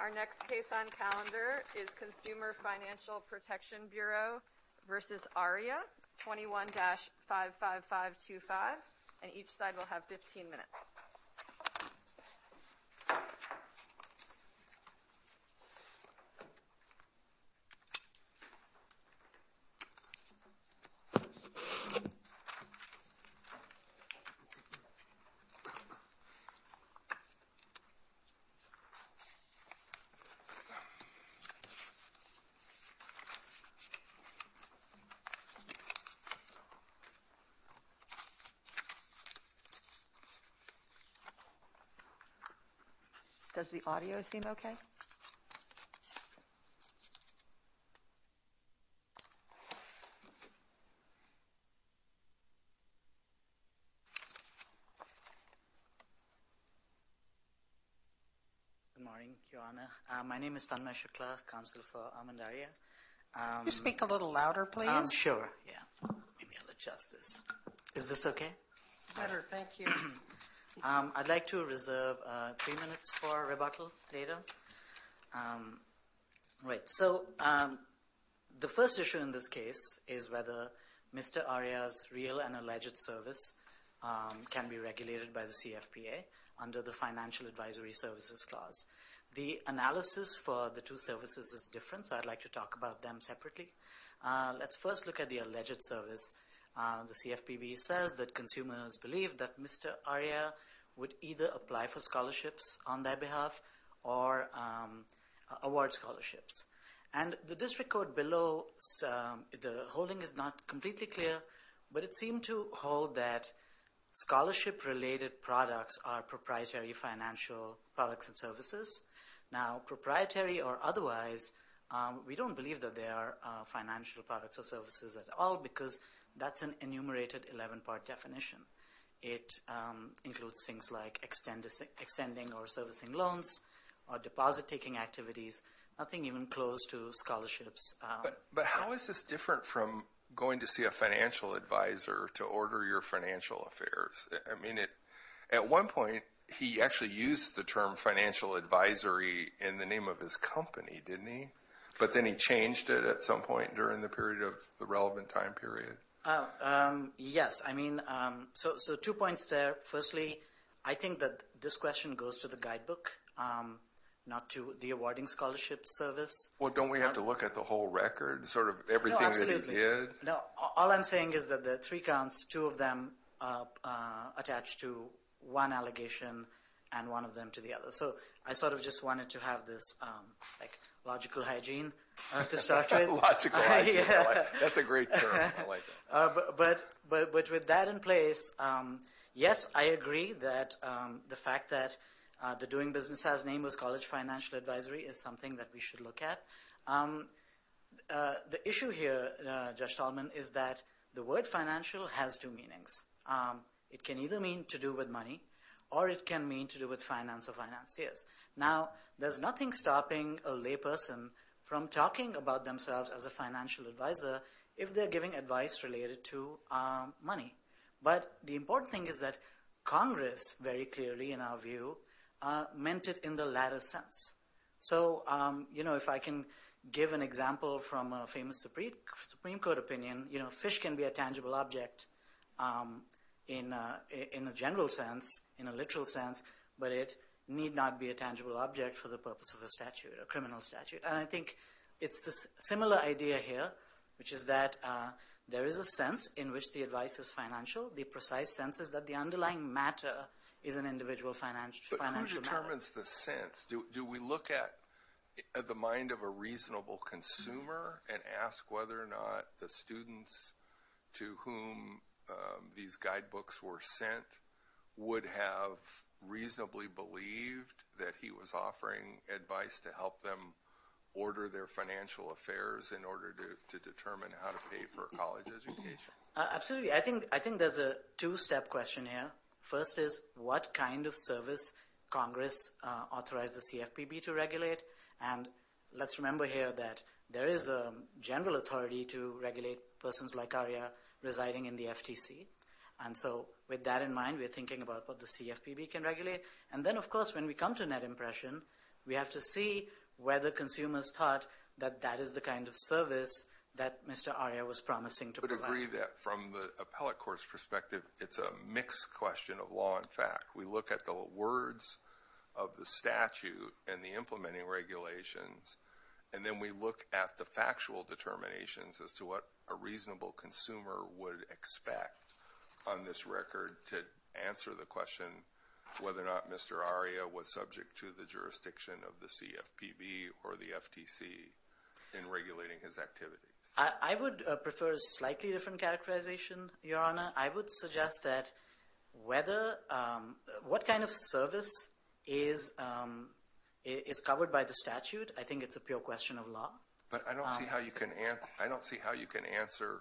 Our next case on calendar is Consumer Financial Protection Bureau v. Aria, 21-55525, and each Does the audio seem okay? Good morning, Your Honor. My name is Tanmay Shukla, Counsel for Amandaria. Can you speak a little louder, please? Sure, yeah. Maybe I'll adjust this. Is this okay? Better, thank you. I'd like to reserve three minutes for rebuttal later. So the first issue in this case is whether Mr. Arya's real and alleged service can be regulated by the CFPA under the Financial Advisory Services Clause. The analysis for the two services is different, so I'd like to talk about them separately. Let's first look at the alleged service. The CFPB says that consumers believe that Mr. Arya would either apply for scholarships on their behalf or award scholarships. And the district court below, the holding is not completely clear, but it seemed to hold that scholarship-related products are proprietary financial products and services. Now proprietary or otherwise, we don't believe that they are financial products or services at all because that's an enumerated 11-part definition. It includes things like extending or servicing loans or deposit-taking activities, nothing even close to scholarships. But how is this different from going to see a financial advisor to order your financial affairs? I mean, at one point, he actually used the term financial advisory in the name of his company, didn't he? But then he changed it at some point during the period of the relevant time period. Yes. I mean, so two points there. Firstly, I think that this question goes to the guidebook, not to the awarding scholarship service. Well, don't we have to look at the whole record, sort of everything that he did? No, absolutely. All I'm saying is that the three counts, two of them attach to one allegation and one of them to the other. So I sort of just wanted to have this like logical hygiene to start with. Logical hygiene. That's a great term. I like it. But with that in place, yes, I agree that the fact that the doing business has name was college financial advisory is something that we should look at. The issue here, Judge Tallman, is that the word financial has two meanings. It can either mean to do with money or it can mean to do with finance or financiers. Now, there's nothing stopping a layperson from talking about themselves as a financial advisor if they're giving advice related to money. But the important thing is that Congress, very clearly in our view, meant it in the latter sense. So if I can give an example from a famous Supreme Court opinion, fish can be a tangible object in a general sense, in a literal sense, but it need not be a tangible object for the purpose of a statute, a criminal statute. And I think it's this similar idea here, which is that there is a sense in which the advice is financial. The precise sense is that the underlying matter is an individual financial matter. But who determines the sense? Do we look at the mind of a reasonable consumer and ask whether or not the students to whom these guidebooks were sent would have reasonably believed that he was offering advice to help them order their financial affairs in order to determine how to pay for college education? Absolutely. I think there's a two-step question here. First is, what kind of service Congress authorized the CFPB to regulate? And let's remember here that there is a general authority to regulate persons like Aria residing in the FTC. And so with that in mind, we're thinking about what the CFPB can regulate. And then, of course, when we come to net impression, we have to see whether consumers thought that that is the kind of service that Mr. Aria was promising to provide. I agree that from the appellate court's perspective, it's a mixed question of law and fact. We look at the words of the statute and the implementing regulations, and then we look at the factual determinations as to what a reasonable consumer would expect on this record to answer the question whether or not Mr. Aria was subject to the jurisdiction of the CFPB or the FTC in regulating his activities. I would prefer a slightly different characterization, Your Honor. I would suggest that what kind of service is covered by the statute, I think it's a pure question of law. But I don't see how you can answer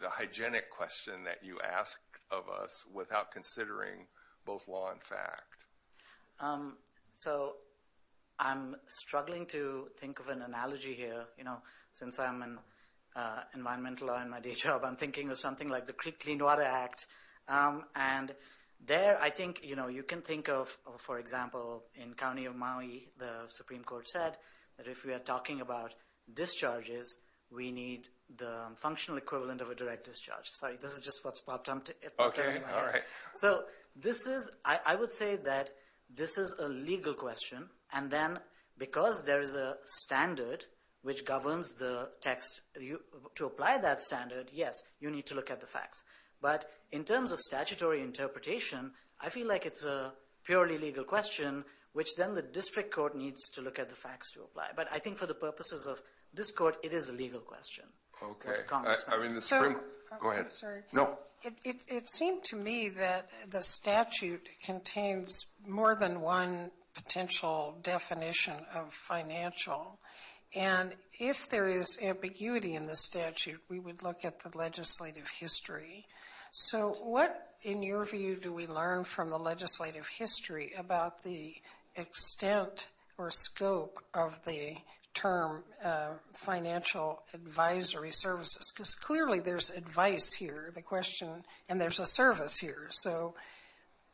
the hygienic question that you ask of us without considering both law and fact. So, I'm struggling to think of an analogy here. You know, since I'm in environmental law in my day job, I'm thinking of something like the Creek Clean Water Act. And there, I think, you know, you can think of, for example, in County of Maui, the Supreme Court said that if we are talking about discharges, we need the functional equivalent of a direct discharge. Sorry, this is just what's popped up. Okay. All right. So, this is, I would say that this is a legal question. And then, because there is a standard which governs the text, to apply that standard, yes, you need to look at the facts. But in terms of statutory interpretation, I feel like it's a purely legal question, which then the district court needs to look at the facts to apply. But I think for the purposes of this court, it is a legal question. Okay. I mean, the Supreme... Go ahead. Sorry. No. Well, it seemed to me that the statute contains more than one potential definition of financial. And if there is ambiguity in the statute, we would look at the legislative history. So what, in your view, do we learn from the legislative history about the extent or scope of the term financial advisory services? Because clearly there's advice here, the question, and there's a service here. So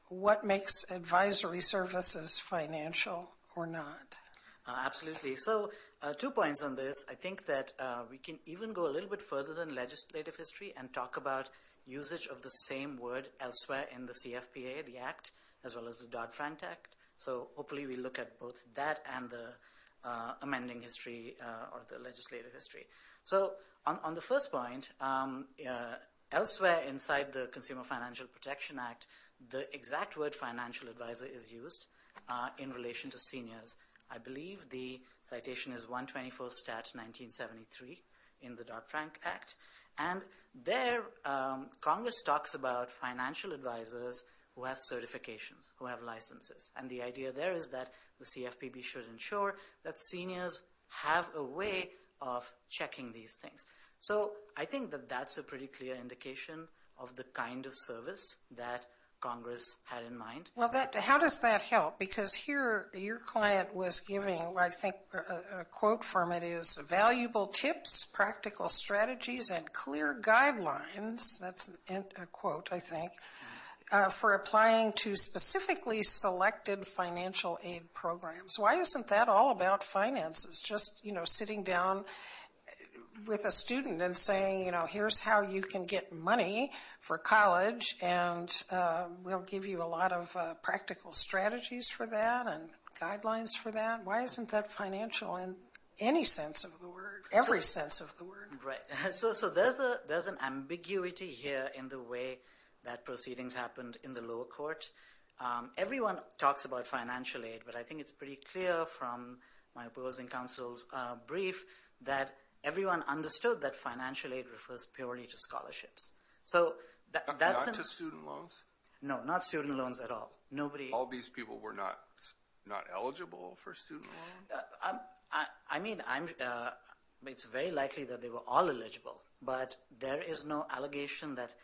what makes advisory services financial or not? Absolutely. So, two points on this. I think that we can even go a little bit further than legislative history and talk about usage of the same word elsewhere in the CFPA, the Act, as well as the Dodd-Frank Act. So hopefully we look at both that and the amending history or the legislative history. So on the first point, elsewhere inside the Consumer Financial Protection Act, the exact word financial advisor is used in relation to seniors. I believe the citation is 124 Stat 1973 in the Dodd-Frank Act. And there Congress talks about financial advisors who have certifications, who have licenses. And the idea there is that the CFPB should ensure that seniors have a way of checking these things. So I think that that's a pretty clear indication of the kind of service that Congress had in mind. Well, how does that help? Because here your client was giving, I think, a quote from it is, valuable tips, practical strategies, and clear guidelines, that's a quote, I think, for applying to specifically selected financial aid programs. Why isn't that all about finances, just, you know, sitting down with a student and saying, you know, here's how you can get money for college, and we'll give you a lot of practical strategies for that and guidelines for that? Every sense of the word. Right. So there's an ambiguity here in the way that proceedings happened in the lower court. Everyone talks about financial aid, but I think it's pretty clear from my opposing counsel's brief that everyone understood that financial aid refers purely to scholarships. So that's... Not to student loans? No, not student loans at all. Nobody... All these people were not eligible for student loans? I mean, it's very likely that they were all eligible, but there is no allegation that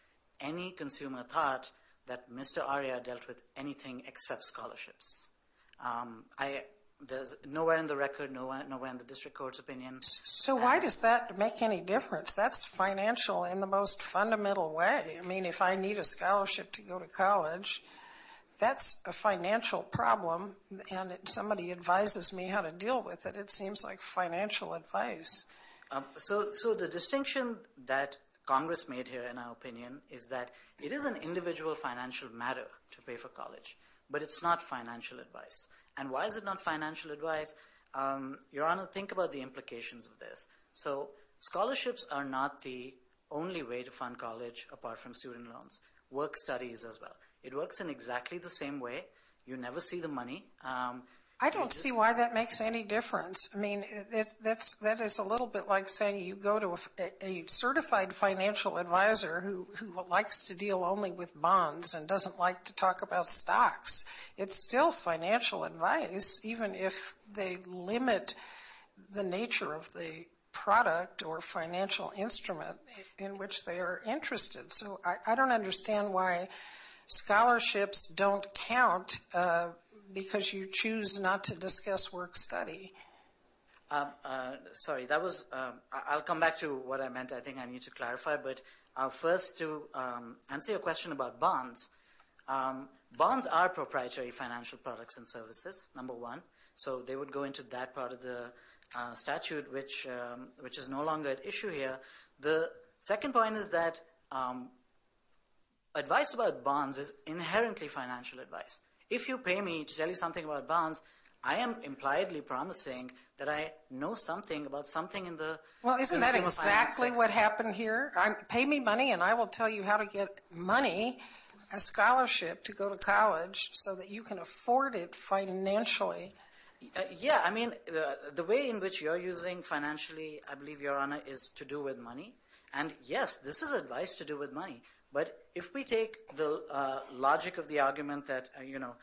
any consumer thought that Mr. Aria dealt with anything except scholarships. There's nowhere in the record, nowhere in the district court's opinion... So why does that make any difference? That's financial in the most fundamental way. I mean, if I need a scholarship to go to college, that's a financial problem, and if somebody advises me how to deal with it, it seems like financial advice. So the distinction that Congress made here, in our opinion, is that it is an individual financial matter to pay for college, but it's not financial advice. And why is it not financial advice? Your Honor, think about the implications of this. So scholarships are not the only way to fund college apart from student loans. Work studies as well. It works in exactly the same way. You never see the money. I don't see why that makes any difference. I mean, that is a little bit like saying you go to a certified financial advisor who likes to deal only with bonds and doesn't like to talk about stocks. It's still financial advice, even if they limit the nature of the product or financial instrument in which they are interested. So I don't understand why scholarships don't count because you choose not to discuss work study. Sorry, that was – I'll come back to what I meant. I think I need to clarify, but first to answer your question about bonds, bonds are proprietary financial products and services, number one. So they would go into that part of the statute, which is no longer at issue here. The second point is that advice about bonds is inherently financial advice. If you pay me to tell you something about bonds, I am impliedly promising that I know something about something in the system of finance. Well, isn't that exactly what happened here? Pay me money and I will tell you how to get money, a scholarship, to go to college so that you can afford it financially. Yeah, I mean, the way in which you're using financially, I believe, Your Honor, is to do with money, and yes, this is advice to do with money, but if we take the logic of the argument that, you know,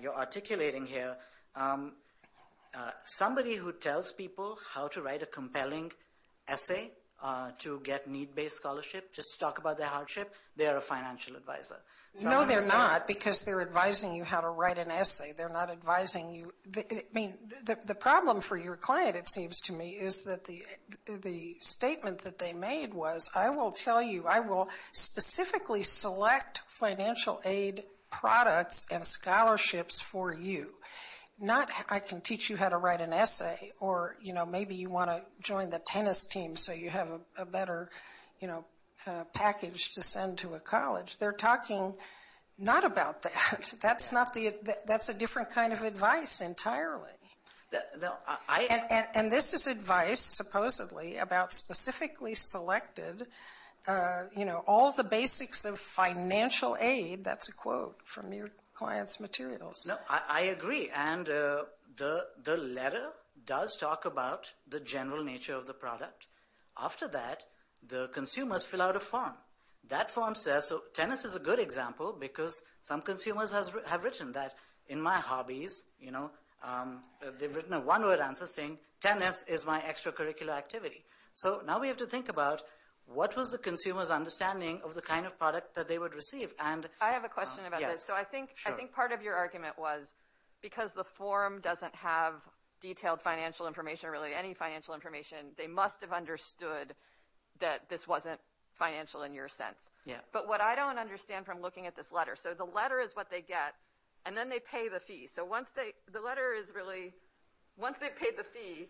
you're articulating here, somebody who tells people how to write a compelling essay to get need-based scholarship just to talk about their hardship, they are a financial advisor. No, they're not because they're advising you how to write an essay. They're not advising you – I mean, the problem for your client, it seems to me, is that the statement that they made was, I will tell you, I will specifically select financial aid products and scholarships for you, not I can teach you how to write an essay or, you know, maybe you want to join the tennis team so you have a better, you know, package to send to a college. They're talking not about that. That's not the – that's a different kind of advice entirely. No, I – And this is advice, supposedly, about specifically selected, you know, all the basics of financial aid. That's a quote from your client's materials. No, I agree, and the letter does talk about the general nature of the product. After that, the consumers fill out a form. That form says – so tennis is a good example because some consumers have written that, in my hobbies, you know, they've written a one-word answer saying tennis is my extracurricular activity. So now we have to think about what was the consumer's understanding of the kind of product that they would receive and – I have a question about this. Yes, sure. So I think part of your argument was because the form doesn't have detailed financial information or really any financial information, they must have understood that this wasn't financial in your sense. Yeah. But what I don't understand from looking at this letter – so the letter is what they get, and then they pay the fee. So once they – the letter is really – once they've paid the fee,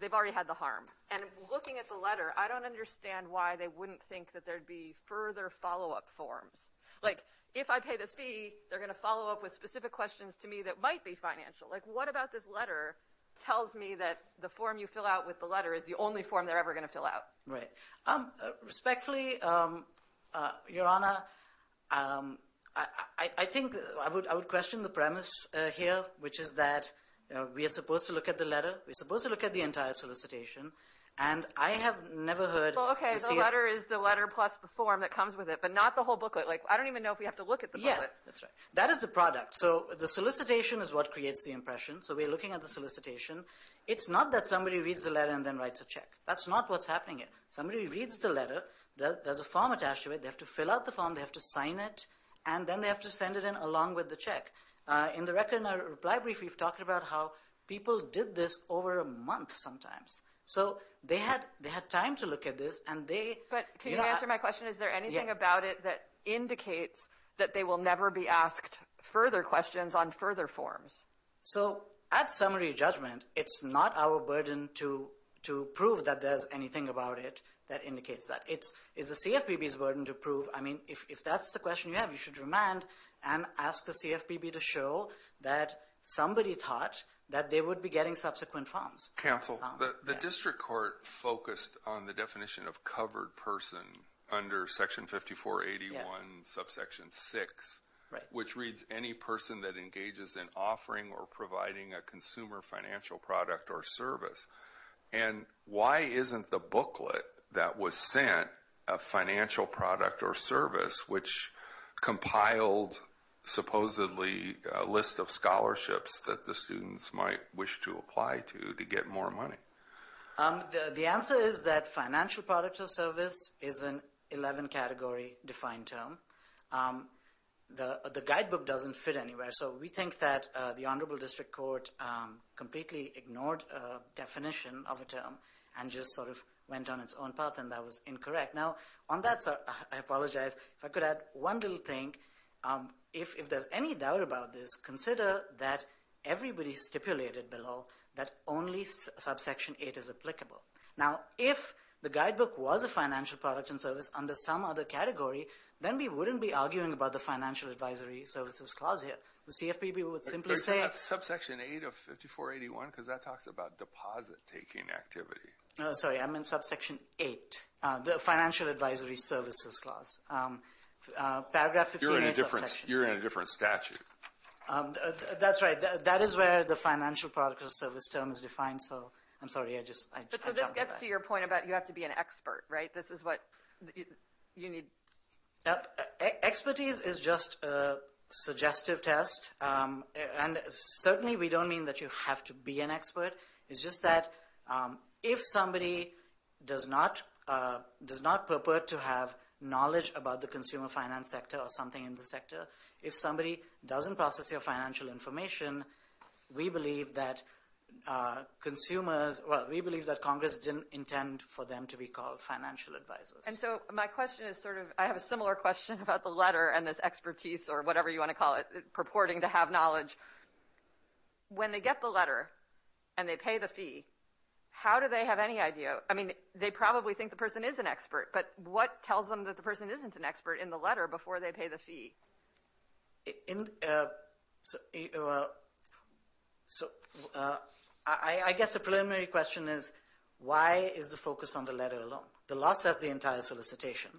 they've already had the harm. And looking at the letter, I don't understand why they wouldn't think that there'd be further follow-up forms. Like if I pay this fee, they're going to follow up with specific questions to me that might be financial. Like what about this letter tells me that the form you fill out with the letter is the only form they're ever going to fill out? Right. Respectfully, Your Honor, I think – I would question the premise here, which is that we are supposed to look at the letter, we're supposed to look at the entire solicitation, and I have never heard – Well, okay, so the letter is the letter plus the form that comes with it, but not the whole booklet. Like I don't even know if we have to look at the booklet. Yeah, that's right. That is the product. So the solicitation is what creates the impression. So we're looking at the solicitation. It's not that somebody reads the letter and then writes a check. That's not what's happening here. Somebody reads the letter, there's a form attached to it, they have to fill out the form, they have to sign it, and then they have to send it in along with the check. In the record in our reply brief, we've talked about how people did this over a month sometimes. So they had time to look at this, and they – But can you answer my question? Is there anything about it that indicates that they will never be asked further questions on further forms? So at summary judgment, it's not our burden to prove that there's anything about it that indicates that. It's the CFPB's burden to prove. I mean, if that's the question you have, you should remand and ask the CFPB to show that somebody thought that they would be getting subsequent forms. Counsel, the district court focused on the definition of covered person under Section 5481, Subsection 6, which reads, Any person that engages in offering or providing a consumer financial product or service. And why isn't the booklet that was sent a financial product or service which compiled supposedly a list of scholarships that the students might wish to apply to to get more money? The answer is that financial product or service is an 11-category defined term. The guidebook doesn't fit anywhere. So we think that the Honorable District Court completely ignored a definition of a term and just sort of went on its own path, and that was incorrect. Now, on that, I apologize. If I could add one little thing, if there's any doubt about this, consider that everybody stipulated below that only Subsection 8 is applicable. Now, if the guidebook was a financial product and service under some other category, then we wouldn't be arguing about the Financial Advisory Services Clause here. The CFPB would simply say... But isn't that Subsection 8 of 5481? Because that talks about deposit-taking activity. Sorry, I meant Subsection 8, the Financial Advisory Services Clause. You're in a different statute. That's right. That is where the financial product or service term is defined, so I'm sorry. I just... So this gets to your point about you have to be an expert, right? This is what you need... Expertise is just a suggestive test, and certainly we don't mean that you have to be an expert. It's just that if somebody does not purport to have knowledge about the consumer finance sector or something in the sector, if somebody doesn't process your financial information, we believe that consumers... Well, we believe that Congress didn't intend for them to be called financial advisors. And so my question is sort of... I have a similar question about the letter and this expertise or whatever you want to call it, purporting to have knowledge. When they get the letter and they pay the fee, how do they have any idea? I mean, they probably think the person is an expert, but what tells them that the person isn't an expert in the letter before they pay the fee? I guess a preliminary question is why is the focus on the letter alone? The law says the entire solicitation.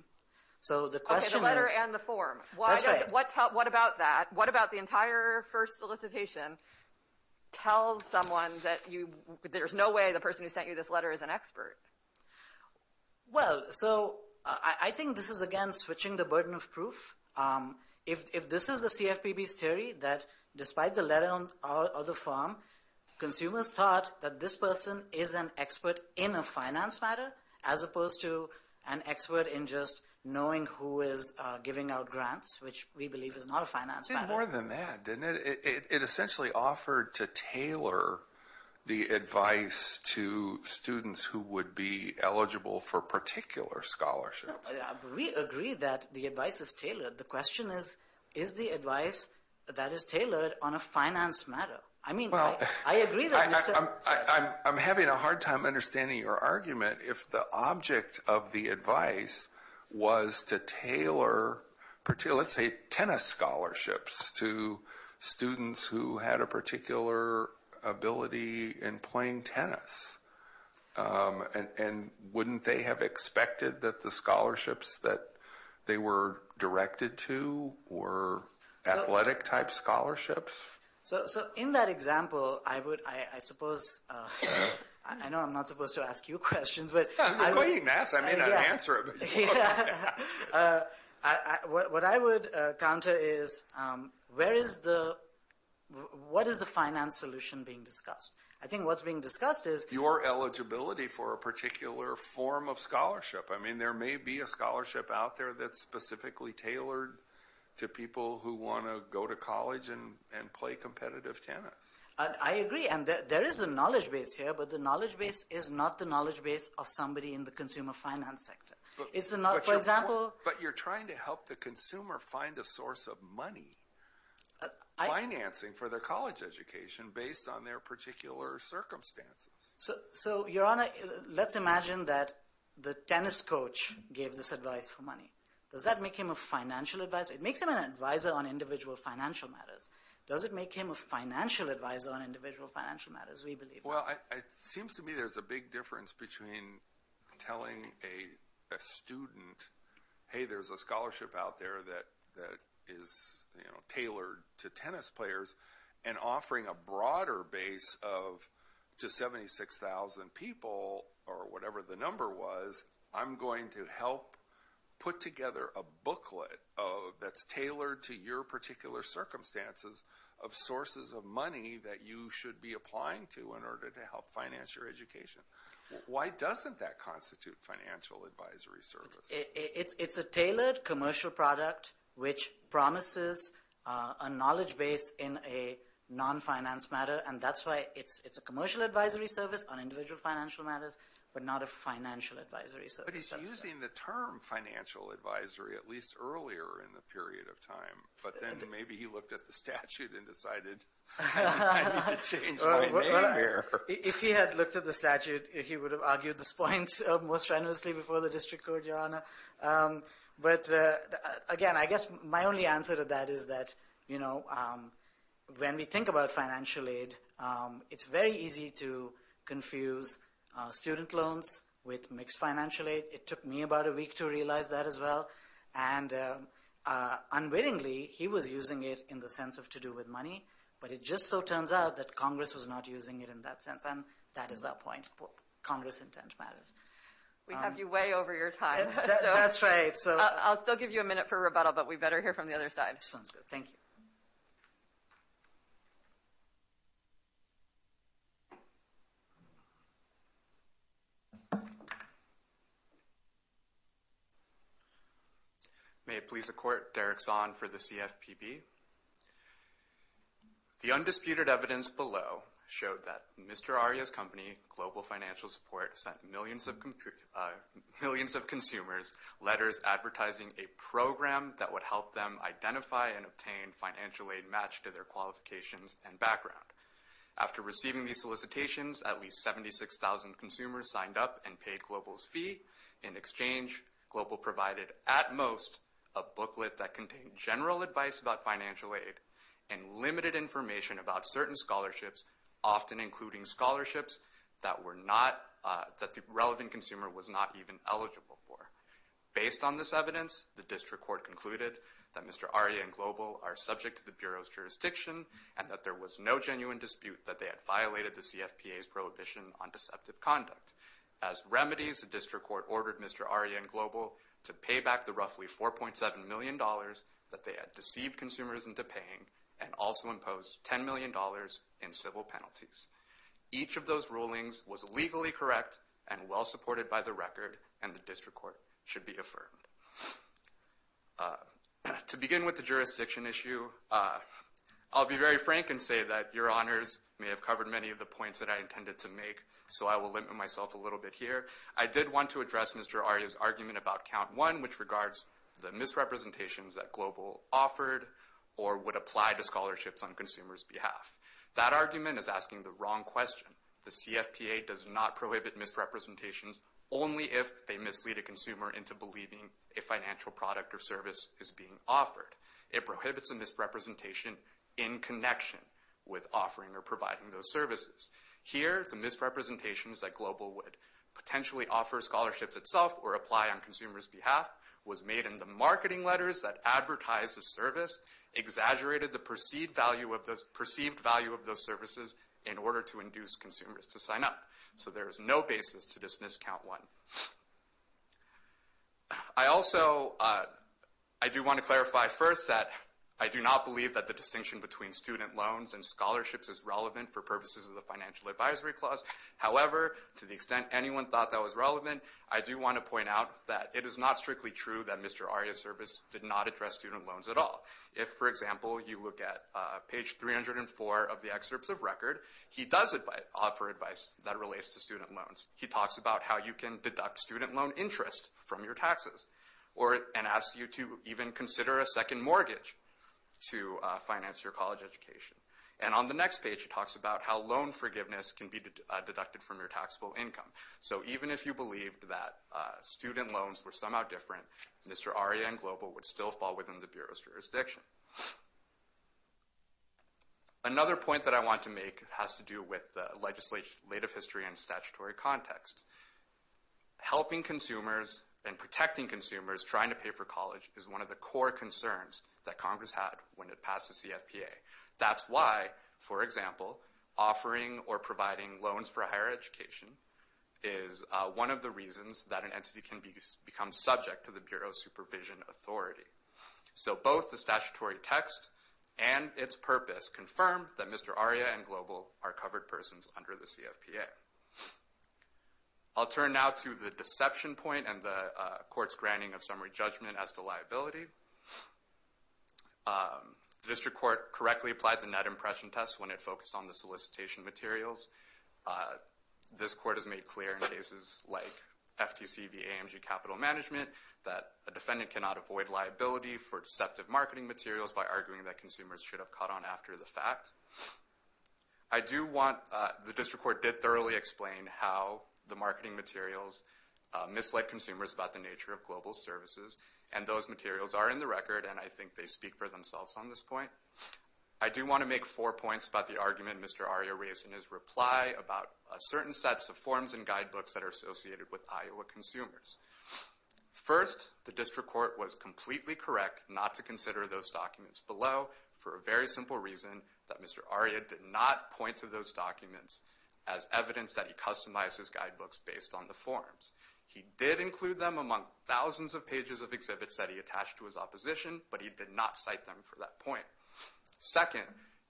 So the question is... Okay, the letter and the form. That's right. What about that? What about the entire first solicitation tells someone that there's no way the person who sent you this letter is an expert? Well, so I think this is, again, switching the burden of proof. If this is the CFPB's theory that despite the letter or the form, consumers thought that this person is an expert in a finance matter as opposed to an expert in just knowing who is giving out grants, which we believe is not a finance matter. It did more than that, didn't it? It essentially offered to tailor the advice to students who would be eligible for particular scholarships. We agree that the advice is tailored. The question is, is the advice that is tailored on a finance matter? I mean, I agree that... I'm having a hard time understanding your argument. If the object of the advice was to tailor, let's say, tennis scholarships to students who had a particular ability in playing tennis, and wouldn't they have expected that the scholarships that they were directed to were athletic-type scholarships? So, in that example, I would, I suppose... I know I'm not supposed to ask you questions, but... You're quoting Nass. I may not answer it, but you're going to have to ask it. What I would counter is, what is the finance solution being discussed? I think what's being discussed is... Your eligibility for a particular form of scholarship. I mean, there may be a scholarship out there that's specifically tailored to people who want to go to college and play competitive tennis. I agree. And there is a knowledge base here, but the knowledge base is not the knowledge base of somebody in the consumer finance sector. It's not, for example... But you're trying to help the consumer find a source of money, financing for their college education based on their particular circumstances. So, Your Honor, let's imagine that the tennis coach gave this advice for money. Does that make him a financial advisor? It makes him an advisor on individual financial matters. Does it make him a financial advisor on individual financial matters, we believe? Well, it seems to me there's a big difference between telling a student, hey, there's a scholarship out there that is tailored to tennis players, and offering a broader base of just 76,000 people, or whatever the number was. I'm going to help put together a booklet that's tailored to your particular circumstances of sources of money that you should be applying to in order to help finance your education. Why doesn't that constitute financial advisory service? It's a tailored commercial product which promises a knowledge base in a non-finance matter, and that's why it's a commercial advisory service on individual financial matters, but not a financial advisory service. But he's using the term financial advisory at least earlier in the period of time. But then maybe he looked at the statute and decided, I need to change my name here. If he had looked at the statute, he would have argued this point most generously before the district court, Your Honor. But again, I guess my only answer to that is that when we think about financial aid, it's very easy to confuse student loans with mixed financial aid. It took me about a week to realize that as well. And unwittingly, he was using it in the sense of to do with money, but it just so turns out that Congress was not using it in that sense, and that is our point. Congress' intent matters. We have you way over your time. That's right. I'll still give you a minute for rebuttal, but we better hear from the other side. Sounds good. Thank you. Thank you. May it please the Court, Derek Zahn for the CFPB. The undisputed evidence below showed that Mr. Aria's company, Global Financial Support, sent millions of consumers letters advertising a program that would help them identify and obtain financial aid matched to their qualifications and background. After receiving these solicitations, at least 76,000 consumers signed up and paid Global's fee. In exchange, Global provided, at most, a booklet that contained general advice about financial aid and limited information about certain scholarships, often including scholarships that the relevant consumer was not even eligible for. Based on this evidence, the District Court concluded that Mr. Aria and Global are subject to the Bureau's jurisdiction and that there was no genuine dispute that they had violated the CFPA's prohibition on deceptive conduct. As remedies, the District Court ordered Mr. Aria and Global to pay back the roughly $4.7 million that they had deceived consumers into paying and also imposed $10 million in civil penalties. Each of those rulings was legally correct and well supported by the record, and the District Court should be affirmed. To begin with the jurisdiction issue, I'll be very frank and say that your honors may have covered many of the points that I intended to make, so I will limit myself a little bit here. I did want to address Mr. Aria's argument about Count 1, which regards the misrepresentations that Global offered or would apply to scholarships on consumers' behalf. That argument is asking the wrong question. The CFPA does not prohibit misrepresentations only if they mislead a consumer into believing a financial product or service is being offered. It prohibits a misrepresentation in connection with offering or providing those services. Here, the misrepresentations that Global would potentially offer scholarships itself or apply on consumers' behalf was made in the marketing letters that advertised the service, exaggerated the perceived value of those services in order to induce consumers to sign up. So there is no basis to dismiss Count 1. I also do want to clarify first that I do not believe that the distinction between student loans and scholarships is relevant for purposes of the Financial Advisory Clause. However, to the extent anyone thought that was relevant, I do want to point out that it is not strictly true that Mr. Aria's service did not address student loans at all. If, for example, you look at page 304 of the excerpts of record, he does offer advice that relates to student loans. He talks about how you can deduct student loan interest from your taxes and asks you to even consider a second mortgage to finance your college education. And on the next page, he talks about how loan forgiveness can be deducted from your taxable income. So even if you believed that student loans were somehow different, Mr. Aria and Global would still fall within the Bureau's jurisdiction. Another point that I want to make has to do with legislative history and statutory context. Helping consumers and protecting consumers trying to pay for college is one of the core concerns that Congress had when it passed the CFPA. That's why, for example, offering or providing loans for a higher education is one of the reasons that an entity can become subject to the Bureau's supervision authority. So both the statutory text and its purpose confirm that Mr. Aria and Global are covered persons under the CFPA. I'll turn now to the deception point and the court's granting of summary judgment as to liability. The district court correctly applied the net impression test when it focused on the solicitation materials. This court has made clear in cases like FTC v. AMG Capital Management that a defendant cannot avoid liability for deceptive marketing materials by arguing that consumers should have caught on after the fact. The district court did thoroughly explain how the marketing materials mislead consumers about the nature of Global's services, and those materials are in the record, and I think they speak for themselves on this point. I do want to make four points about the argument Mr. Aria raised in his reply about certain sets of forms and guidebooks that are associated with Iowa consumers. First, the district court was completely correct not to consider those documents below for a very simple reason, that Mr. Aria did not point to those documents as evidence that he customized his guidebooks based on the forms. He did include them among thousands of pages of exhibits that he attached to his opposition, but he did not cite them for that point. Second,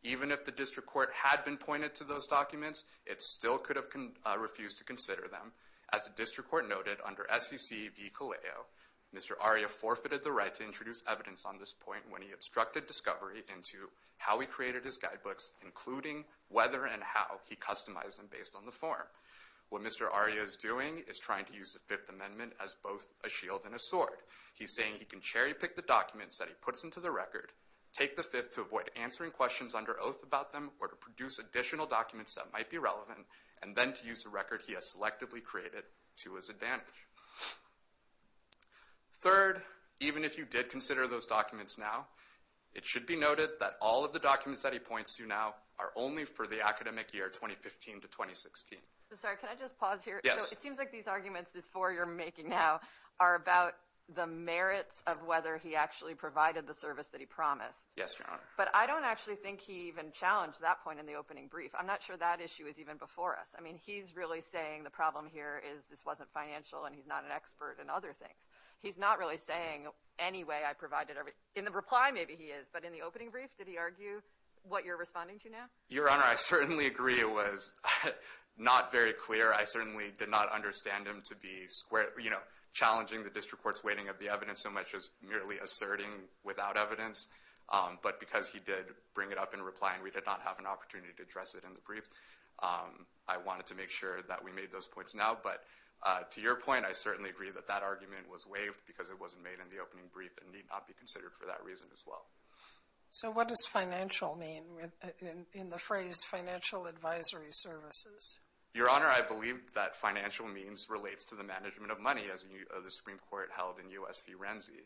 even if the district court had been pointed to those documents, it still could have refused to consider them. As the district court noted under SEC v. CALEO, Mr. Aria forfeited the right to introduce evidence on this point when he obstructed discovery into how he created his guidebooks, including whether and how he customized them based on the form. What Mr. Aria is doing is trying to use the Fifth Amendment as both a shield and a sword. He's saying he can cherry-pick the documents that he puts into the record, take the Fifth to avoid answering questions under oath about them or to produce additional documents that might be relevant, and then to use the record he has selectively created to his advantage. Third, even if you did consider those documents now, it should be noted that all of the documents that he points to now are only for the academic year 2015 to 2016. Sorry, can I just pause here? It seems like these arguments, these four you're making now, are about the merits of whether he actually provided the service that he promised. Yes, Your Honor. But I don't actually think he even challenged that point in the opening brief. I'm not sure that issue is even before us. I mean, he's really saying the problem here is this wasn't financial and he's not an expert in other things. He's not really saying any way I provided everything. In the reply, maybe he is, but in the opening brief, did he argue what you're responding to now? Your Honor, I certainly agree it was not very clear. I certainly did not understand him to be challenging the district court's weighting of the evidence so much as merely asserting without evidence. But because he did bring it up in reply and we did not have an opportunity to address it in the brief, I wanted to make sure that we made those points now. But to your point, I certainly agree that that argument was waived because it wasn't made in the opening brief and need not be considered for that reason as well. So what does financial mean in the phrase financial advisory services? Your Honor, I believe that financial means relates to the management of money as the Supreme Court held in U.S. v. Renzi.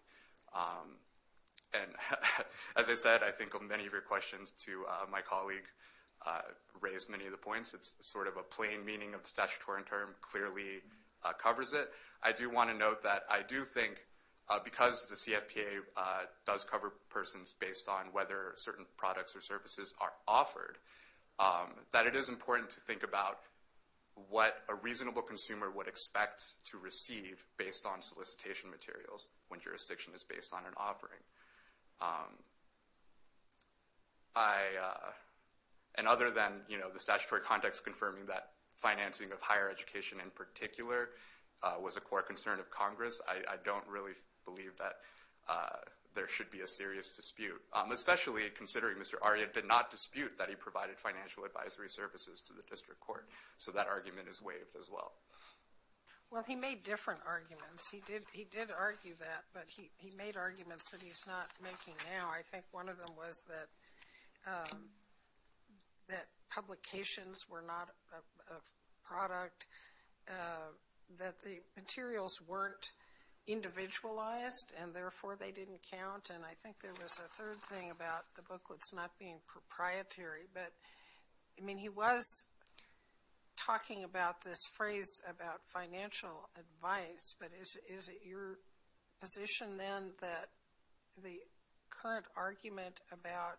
And as I said, I think many of your questions to my colleague raised many of the points. It's sort of a plain meaning of the statutory term, clearly covers it. I do want to note that I do think, because the CFPA does cover persons based on whether certain products or services are offered, that it is important to think about what a reasonable consumer would expect to receive based on solicitation materials when jurisdiction is based on an offering. And other than the statutory context confirming that financing of higher education in particular was a core concern of Congress, I don't really believe that there should be a serious dispute, especially considering Mr. Aria did not dispute that he provided financial advisory services to the District Court. So that argument is waived as well. Well, he made different arguments. He did argue that, but he made arguments that he's not making now. I think one of them was that publications were not a product, that the materials weren't individualized, and therefore they didn't count. And I think there was a third thing about the booklets not being proprietary. But, I mean, he was talking about this phrase about financial advice, but is it your position then that the current argument about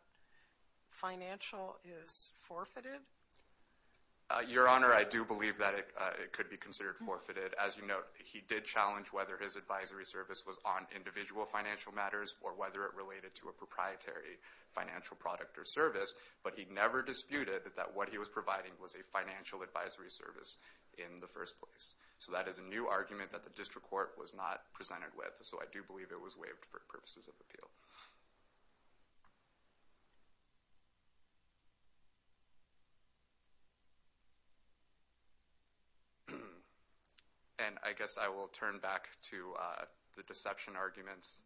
financial is forfeited? Your Honor, I do believe that it could be considered forfeited. As you note, he did challenge whether his advisory service was on individual financial matters or whether it related to a proprietary financial product or service, but he never disputed that what he was providing was a financial advisory service in the first place. So that is a new argument that the District Court was not presented with. So I do believe it was waived for purposes of appeal. And I guess I will turn back to the deception arguments.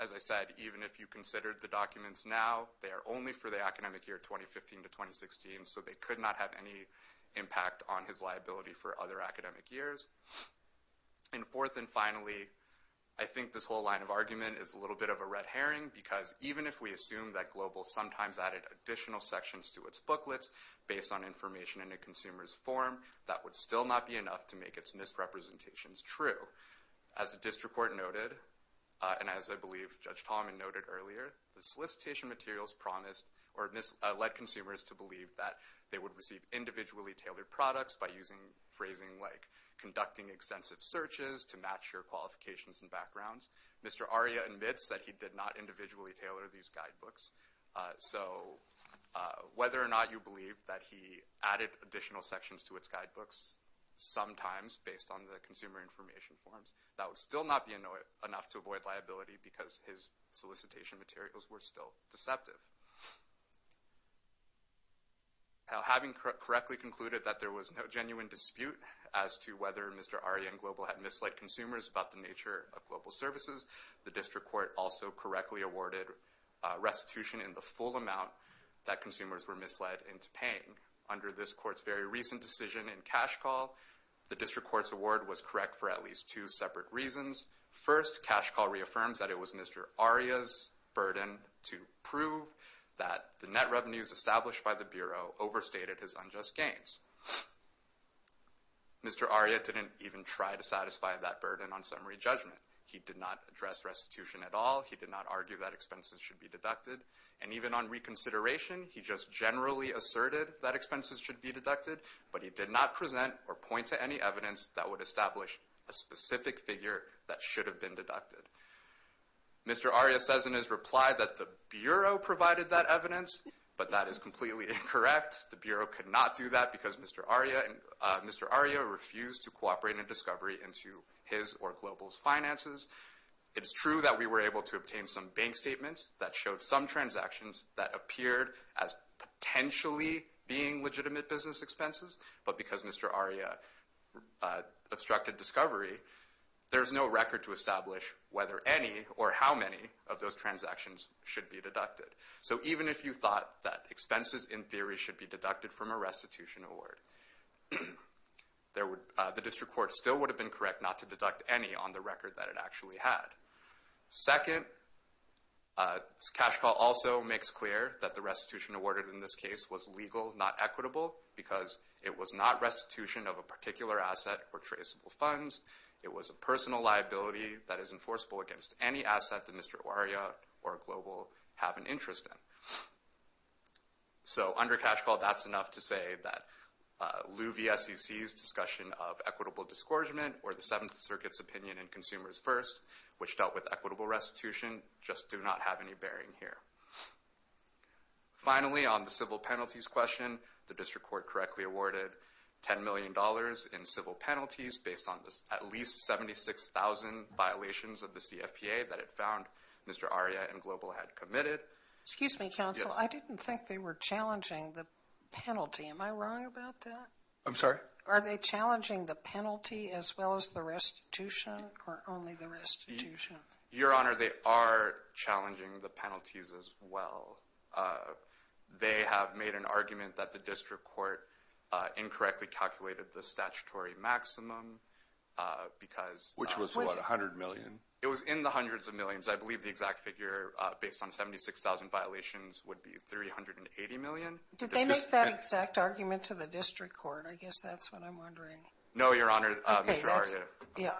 As I said, even if you considered the documents now, they are only for the academic year 2015 to 2016, so they could not have any impact on his liability for other academic years. And fourth and finally, I think this whole line of argument is a little bit of a red herring, because even if we assume that Global sometimes added additional sections to its booklets based on information in a consumer's form, that would still not be enough to make its misrepresentations true. So as the District Court noted, and as I believe Judge Tallman noted earlier, the solicitation materials promised or led consumers to believe that they would receive individually tailored products by using phrasing like, conducting extensive searches to match your qualifications and backgrounds. Mr. Aria admits that he did not individually tailor these guidebooks. So whether or not you believe that he added additional sections to its guidebooks, sometimes based on the consumer information forms, that would still not be enough to avoid liability, because his solicitation materials were still deceptive. Having correctly concluded that there was no genuine dispute as to whether Mr. Aria and Global had misled consumers about the nature of global services, the District Court also correctly awarded restitution in the full amount that consumers were misled into paying. Under this Court's very recent decision in cash call, the District Court's award was correct for at least two separate reasons. First, cash call reaffirms that it was Mr. Aria's burden to prove that the net revenues established by the Bureau overstated his unjust gains. Mr. Aria didn't even try to satisfy that burden on summary judgment. He did not address restitution at all. He did not argue that expenses should be deducted. And even on reconsideration, he just generally asserted that expenses should be deducted, but he did not present or point to any evidence that would establish a specific figure that should have been deducted. Mr. Aria says in his reply that the Bureau provided that evidence, but that is completely incorrect. The Bureau could not do that because Mr. Aria refused to cooperate in discovery into his or Global's finances. It's true that we were able to obtain some bank statements that showed some transactions that appeared as potentially being legitimate business expenses, but because Mr. Aria obstructed discovery, there's no record to establish whether any or how many of those transactions should be deducted. So even if you thought that expenses in theory should be deducted from a restitution award, the District Court still would have been correct not to deduct any on the record that it actually had. Second, Cash Call also makes clear that the restitution awarded in this case was legal, not equitable, because it was not restitution of a particular asset or traceable funds. It was a personal liability that is enforceable against any asset that Mr. Aria or Global have an interest in. So under Cash Call, that's enough to say that Liu VSCC's discussion of equitable discouragement or the Seventh Circuit's discussion in Consumers First, which dealt with equitable restitution, just do not have any bearing here. Finally, on the civil penalties question, the District Court correctly awarded $10 million in civil penalties based on at least 76,000 violations of the CFPA that it found Mr. Aria and Global had committed. Excuse me, Counsel. I didn't think they were challenging the penalty. Am I wrong about that? Are they challenging the penalty as well as the restitution or only the restitution? Your Honor, they are challenging the penalties as well. They have made an argument that the District Court incorrectly calculated the statutory maximum, because Which was what, $100 million? It was in the hundreds of millions. I believe the exact figure, based on 76,000 violations, would be $380 million. Did they make that exact argument to the District Court? I guess that's what I'm wondering. No, Your Honor, Mr. Aria.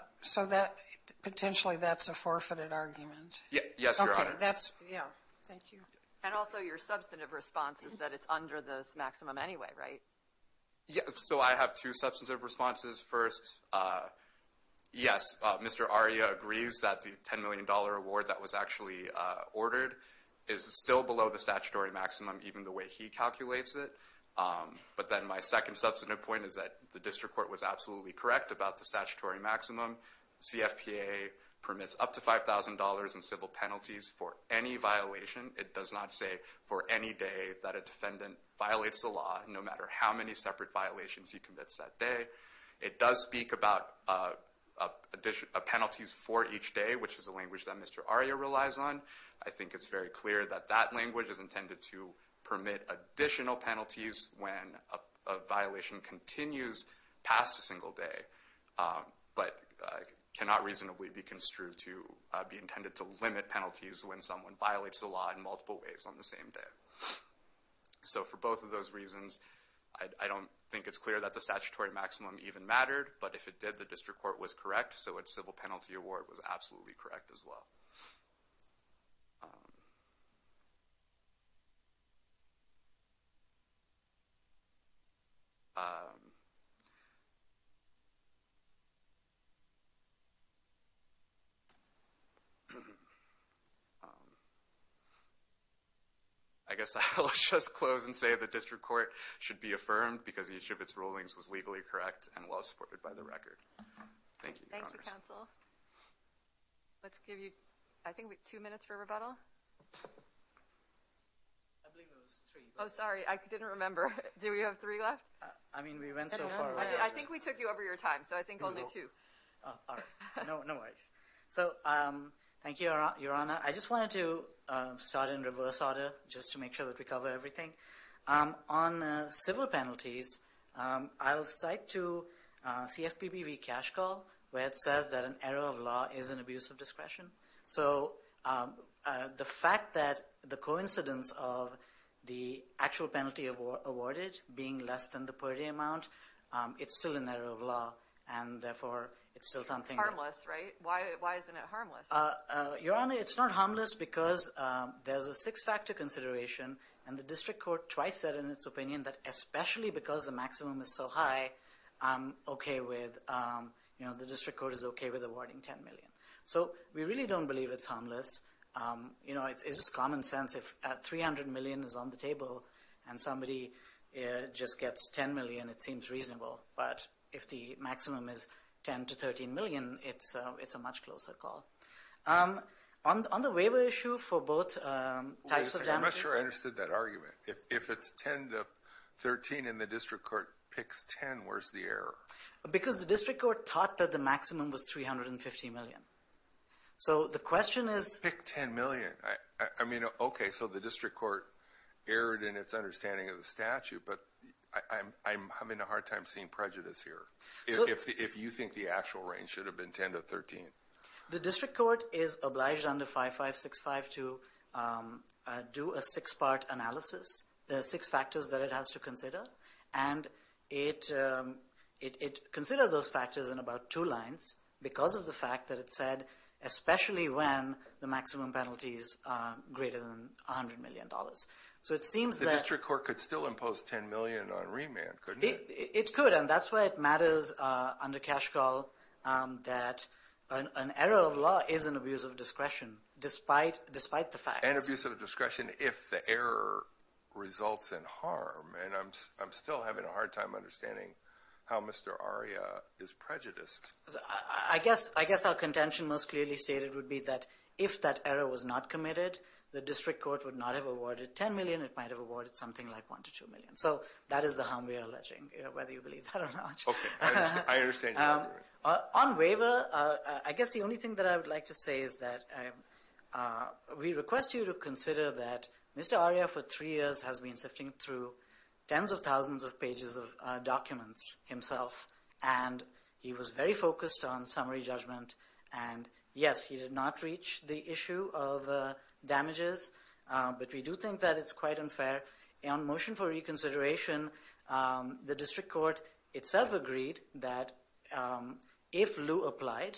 Potentially, that's a forfeited argument. Yes, Your Honor. Thank you. And also, your substantive response is that it's under this maximum anyway, right? I have two substantive responses. First, yes, Mr. Aria agrees that the $10 million award that was actually ordered is still below the statutory maximum, even the way he calculates it. But then my second substantive point is that the District Court was absolutely correct about the statutory maximum. CFPA permits up to $5,000 in civil penalties for any violation. It does not say for any day that a defendant violates the law, no matter how many separate violations he commits that day. It does speak about penalties for each day, which is a language that Mr. Aria relies on. I think it's very clear that that language is intended to be used when a violation continues past a single day, but cannot reasonably be construed to be intended to limit penalties when someone violates the law in multiple ways on the same day. So for both of those reasons, I don't think it's clear that the statutory maximum even mattered, but if it did, the District Court was correct, so its civil penalty award was absolutely correct as well. Um... Um... I guess I'll just close and say the District Court should be affirmed because each of its rulings was legally correct and well supported by the record. Thank you, Congress. Let's give you, I think two minutes for rebuttal. I believe it was three. Oh, sorry, I didn't remember. Do we have three left? I think we took you over your time, so I think I'll do two. No worries. Thank you, Your Honor. I just wanted to start in reverse order just to make sure that we cover everything. On civil penalties, I'll cite to CFPB v. Cash Call where it says that an error of law is an abuse of discretion. So the fact that the coincidence of the actual penalty awarded being less than the per-day amount, it's still an error of law and therefore it's still something... Harmless, right? Why isn't it harmless? Your Honor, it's not harmless because there's a six-factor consideration and the District Court twice said in its opinion that especially because the maximum is so high, I'm okay with, you know, the District Court is okay with awarding $10 million. So we really don't believe it's harmless. You know, it's just common sense if $300 million is on the table and somebody just gets $10 million, it seems reasonable. But if the maximum is $10 to $13 million, it's a much closer call. On the waiver issue for both types of damages... I'm not sure I understood that argument. If it's $10 to $13 and the District Court picks $10, where's the error? Because the District Court thought that the maximum was $350 million. So the question is... You picked $10 million. I mean, okay, so the District Court erred in its understanding of the statute, but I'm having a hard time seeing prejudice here. If you think the actual range should have been $10 to $13. The District Court is obliged under 5565 to do a six-part analysis. There are six factors that it has to consider and it considered those factors in about two lines because of the fact that it said especially when the maximum penalty is greater than $100 million. The District Court could still impose $10 million on remand, couldn't it? It could, and that's why it matters under Cash Call that an error of law is an abuse of discretion, despite the facts. An abuse of discretion if the error results in harm. And I'm still having a hard time understanding how Mr. Arya is prejudiced. I guess our contention most clearly stated would be that if that error was not committed, the District Court would not have awarded $10 million, it might have awarded something like $1 to $2 million. So, that is the harm we are alleging, whether you believe that or not. Okay, I understand your argument. On waiver, I guess the only thing that I would like to say is that we request you to consider that Mr. Arya for three years has been sifting through tens of thousands of pages of documents himself, and he was very focused on summary judgment, and yes, he did not reach the issue of damages, but we do think that it's quite unfair. On motion for reconsideration, the District Court itself agreed that if lieu applied,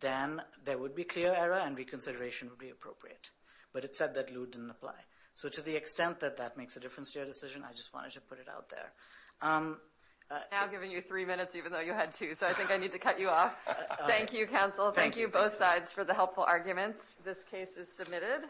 then there would be clear error and reconsideration would be appropriate. But it said that lieu didn't apply. So, to the extent that that makes a difference to your decision, I just wanted to put it out there. I've now given you three minutes, even though you had two, so I think I need to cut you off. Thank you, counsel. Thank you, both sides, for the helpful arguments. This case is submitted.